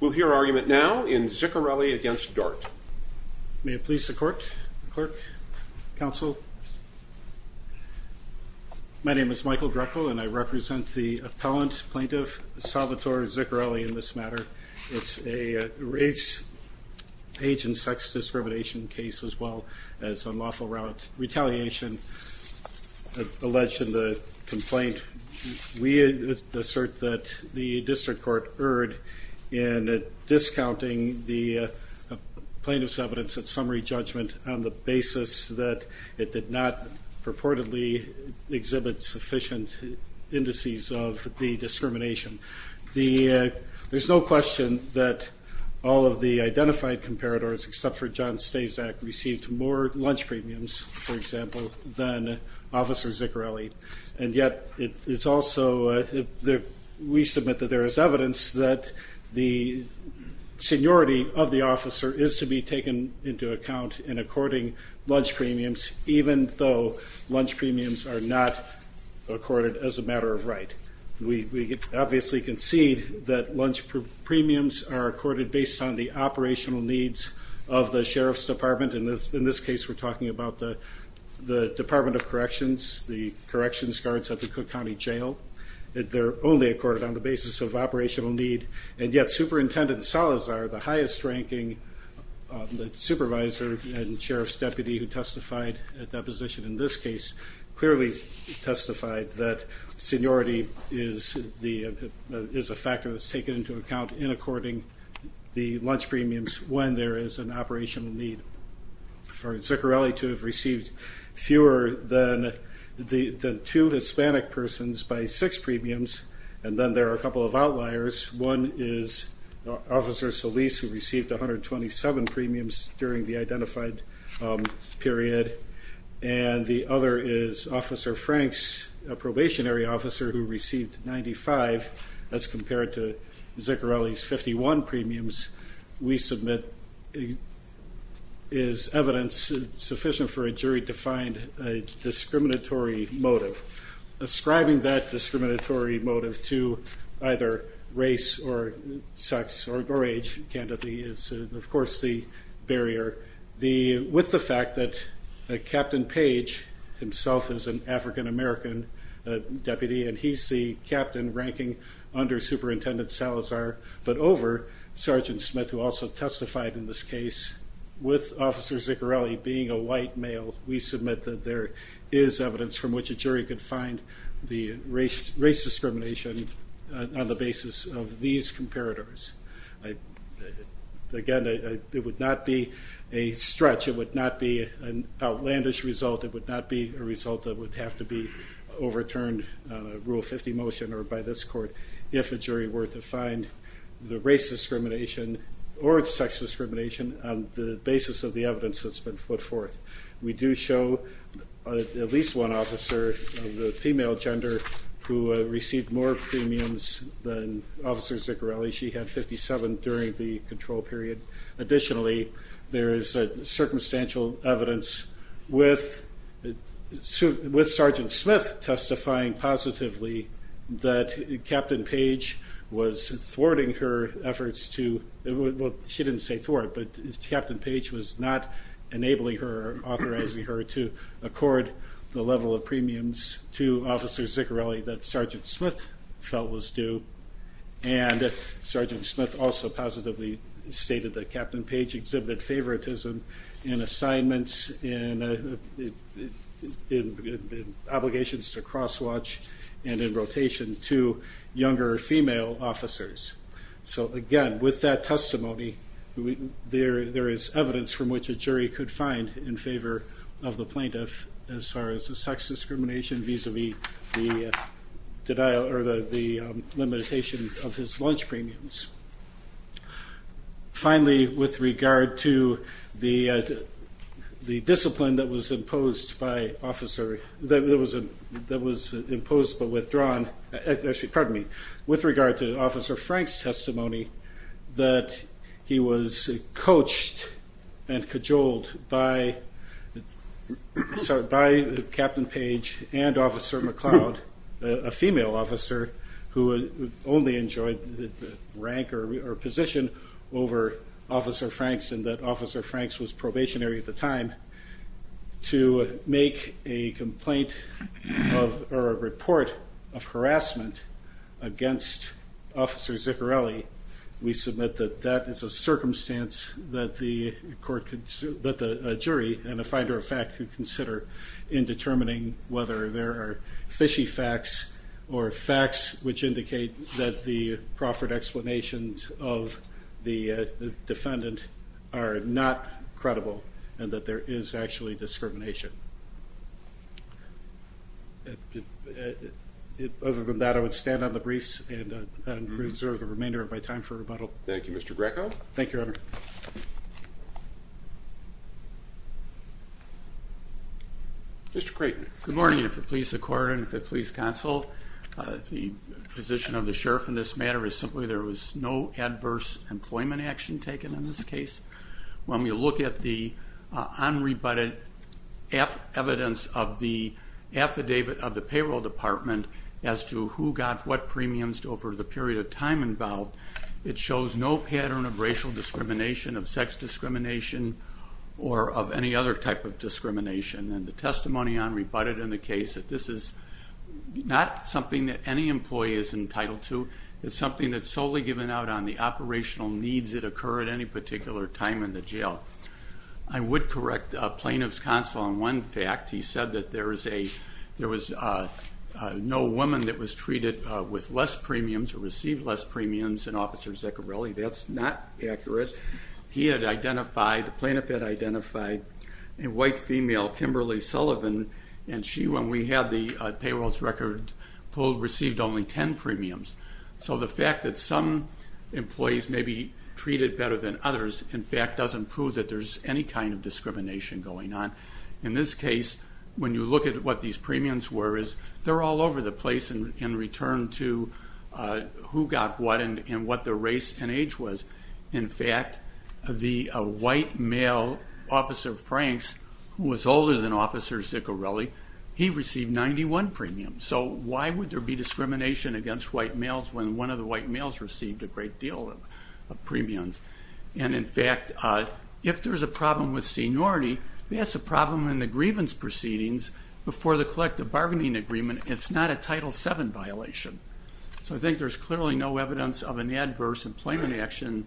We'll hear argument now in Ziccarelli against Dart. May it please the court, clerk, counsel, my name is Michael Greco and I represent the appellant, plaintiff, Salvatore Ziccarelli in this matter. It's a race, age and sex discrimination case as well as a lawful route retaliation alleged in the complaint. We assert that the district court erred in discounting the plaintiff's evidence at summary judgment on the basis that it did not purportedly exhibit sufficient indices of the discrimination. There's no question that all of the identified comparators except for John Stasak received more lunch premiums, for example, than Officer Ziccarelli and yet it is also, we submit that there is evidence that the seniority of the officer is to be taken into account in according lunch premiums even though lunch premiums are not accorded as a matter of right. We obviously concede that lunch premiums are accorded based on the operational needs of the Sheriff's Department and in this case we're talking about the corrections guards at the Cook County Jail. They're only accorded on the basis of operational need and yet Superintendent Salazar, the highest ranking supervisor and sheriff's deputy who testified at that position in this case, clearly testified that seniority is a factor that's taken into account in according the lunch premiums when there is an operational need. For the two Hispanic persons by six premiums and then there are a couple of outliers. One is Officer Solis who received 127 premiums during the identified period and the other is Officer Franks, a probationary officer who received 95 as compared to Ziccarelli's 51 premiums. We submit is evidence sufficient for a discriminatory motive. Ascribing that discriminatory motive to either race or sex or age candidate is of course the barrier. With the fact that Captain Page himself is an African-American deputy and he's the captain ranking under Superintendent Salazar but over Sergeant Smith who also testified in this case with Officer Ziccarelli being a white male, we submit that there is evidence from which a jury could find the race discrimination on the basis of these comparators. Again it would not be a stretch, it would not be an outlandish result, it would not be a result that would have to be overturned Rule 50 motion or by this court if a jury were to find the race discrimination on the basis of the evidence that's been put forth. We do show at least one officer of the female gender who received more premiums than Officer Ziccarelli, she had 57 during the control period. Additionally there is a circumstantial evidence with Sergeant Smith testifying positively that Captain Page was thwarting her efforts to, well she didn't say thwart but Captain Page was not enabling her, authorizing her to accord the level of premiums to Officer Ziccarelli that Sergeant Smith felt was due and Sergeant Smith also positively stated that Captain Page exhibited favoritism in assignments, in obligations to cross watch and in there is evidence from which a jury could find in favor of the plaintiff as far as the sex discrimination vis-a-vis the denial or the limitation of his lunch premiums. Finally with regard to the the discipline that was imposed by officer, that was imposed but withdrawn, actually pardon me, with regard to Officer Frank's testimony that he was coached and cajoled by Captain Page and Officer McCloud, a female officer who only enjoyed the rank or position over Officer Franks and that Officer Franks was probationary at the officer Ziccarelli, we submit that that is a circumstance that the court, that the jury and a finder of fact could consider in determining whether there are fishy facts or facts which indicate that the proffered explanations of the defendant are not credible and that there is actually discrimination. Other than that I would stand on the briefs and reserve the remainder of my time for rebuttal. Thank you Mr. Greco. Thank you, Your Honor. Mr. Creighton. Good morning. If it please the court and if it please counsel, the position of the sheriff in this matter is simply there was no adverse employment action taken in this case. When we look at the unrebutted evidence of the affidavit of the payroll department as to who got what premiums over the period of time involved, it shows no pattern of racial discrimination, of sex discrimination, or of any other type of discrimination and the testimony unrebutted in the case that this is not something that any employee is entitled to. It's something that's solely given out on the operational needs that occur at any particular time in the jail. I would correct a plaintiff's counsel on one fact. He said that there was no woman that was treated with less premiums or received less premiums than Officer Zicharelli. That's not accurate. He had identified, the plaintiff had identified a white female, Kimberly Sullivan, and she, when we had the payrolls record pulled, received only ten premiums. So the fact that some employees may be treated better than others in fact doesn't prove that there's any kind of discrimination going on. In this case, when you look at what these premiums were, they're all over the place in return to who got what and what the race and age was. In fact, the white male, Officer Franks, who was older than Officer Zicharelli, he received 91 premiums. So why would there be discrimination against white males when one of the white males received a great deal of premiums? And in fact, if there's a problem with seniority, that's a problem in the grievance proceedings before the collective bargaining agreement. It's not a Title VII violation. So I think there's clearly no evidence of an adverse employment action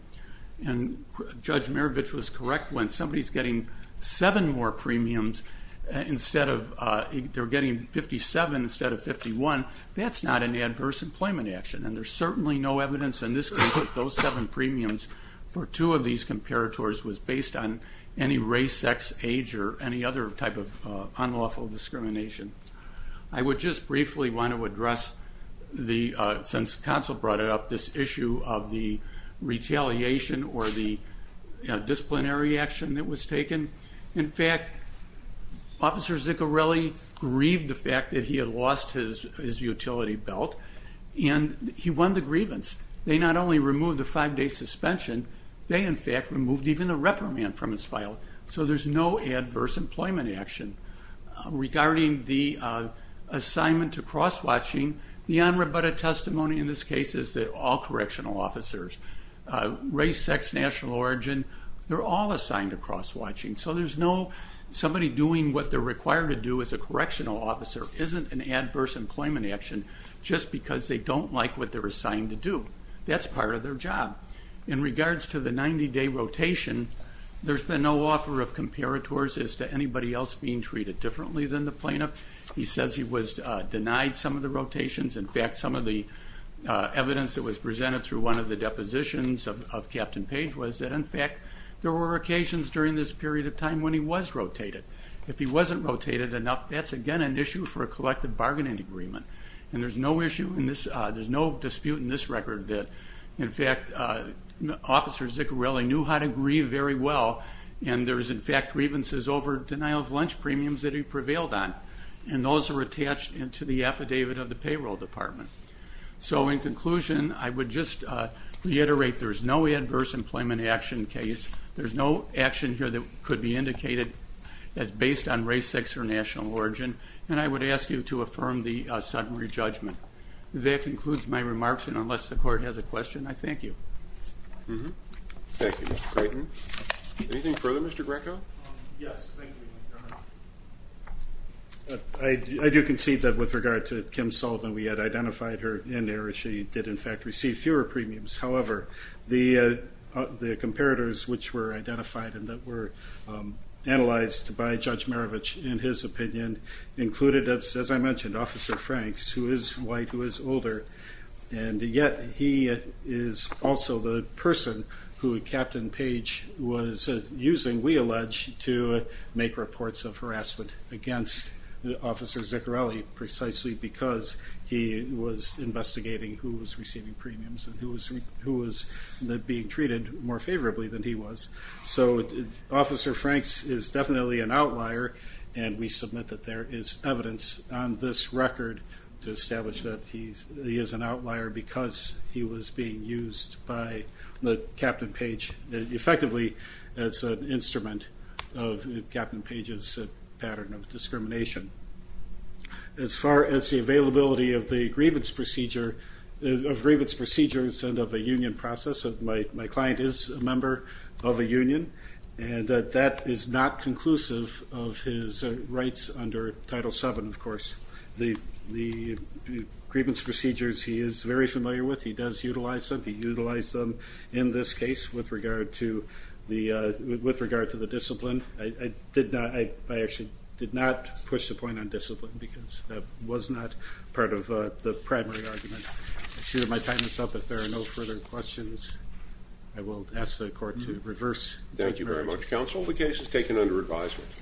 and Judge Maravich was correct. When somebody's getting seven more premiums instead of, they're getting 57 instead of 51, that's not an adverse employment action and there's certainly no evidence in this case that those seven premiums for two of these comparators was based on any race, sex, age, or any other type of unlawful discrimination. I would just briefly want to address the, since counsel brought it up, this issue of the retaliation or the disciplinary action that was taken. In fact, Officer Zicharelli grieved the fact that he had lost his utility belt and he won the case. They not only removed the five-day suspension, they in fact removed even the reprimand from his file. So there's no adverse employment action. Regarding the assignment to cross-watching, the on rebutted testimony in this case is that all correctional officers, race, sex, national origin, they're all assigned to cross-watching. So there's no, somebody doing what they're required to do as a correctional officer isn't an adverse employment action just because they don't like what they're assigned to do. That's part of their job. In regards to the 90-day rotation, there's been no offer of comparators as to anybody else being treated differently than the plaintiff. He says he was denied some of the rotations. In fact, some of the evidence that was presented through one of the depositions of Captain Page was that in fact there were occasions during this period of time when he was rotated. If he wasn't rotated enough, that's again an issue for a collective bargaining agreement and there's no issue in this there's no dispute in this record that in fact Officer Ziccarelli knew how to grieve very well and there's in fact grievances over denial of lunch premiums that he prevailed on and those are attached into the affidavit of the payroll department. So in conclusion, I would just reiterate there's no adverse employment action case. There's no action here that could be indicated as based on race, sex, or national origin and I would ask you to affirm the sudden re-judgment. That concludes my remarks and unless the court has a question, I thank you. Thank you, Mr. Graydon. Anything further, Mr. Greco? Yes, thank you. I do concede that with regard to Kim Sullivan, we had identified her in error. She did in fact receive fewer premiums. However, the comparators which were identified and that were analyzed by Judge Maravich in his opinion included, as I mentioned, Officer Franks, who is white, who is older and yet he is also the person who Captain Page was using, we allege, to make reports of harassment against Officer Ziccarelli precisely because he was investigating who was receiving premiums and who was being treated more and we submit that there is evidence on this record to establish that he is an outlier because he was being used by Captain Page effectively as an instrument of Captain Page's pattern of discrimination. As far as the availability of the grievance procedure, of grievance procedures and of a union process, my client is a member of a union and that is not conclusive of his rights under Title VII, of course. The grievance procedures he is very familiar with, he does utilize them, he utilized them in this case with regard to the discipline. I did not, I actually did not push the point on discipline because that was not part of the primary argument. I see that my time is up. If there are no further questions, I will ask the court to reverse. Thank you very much counsel. The case is taken under advisement.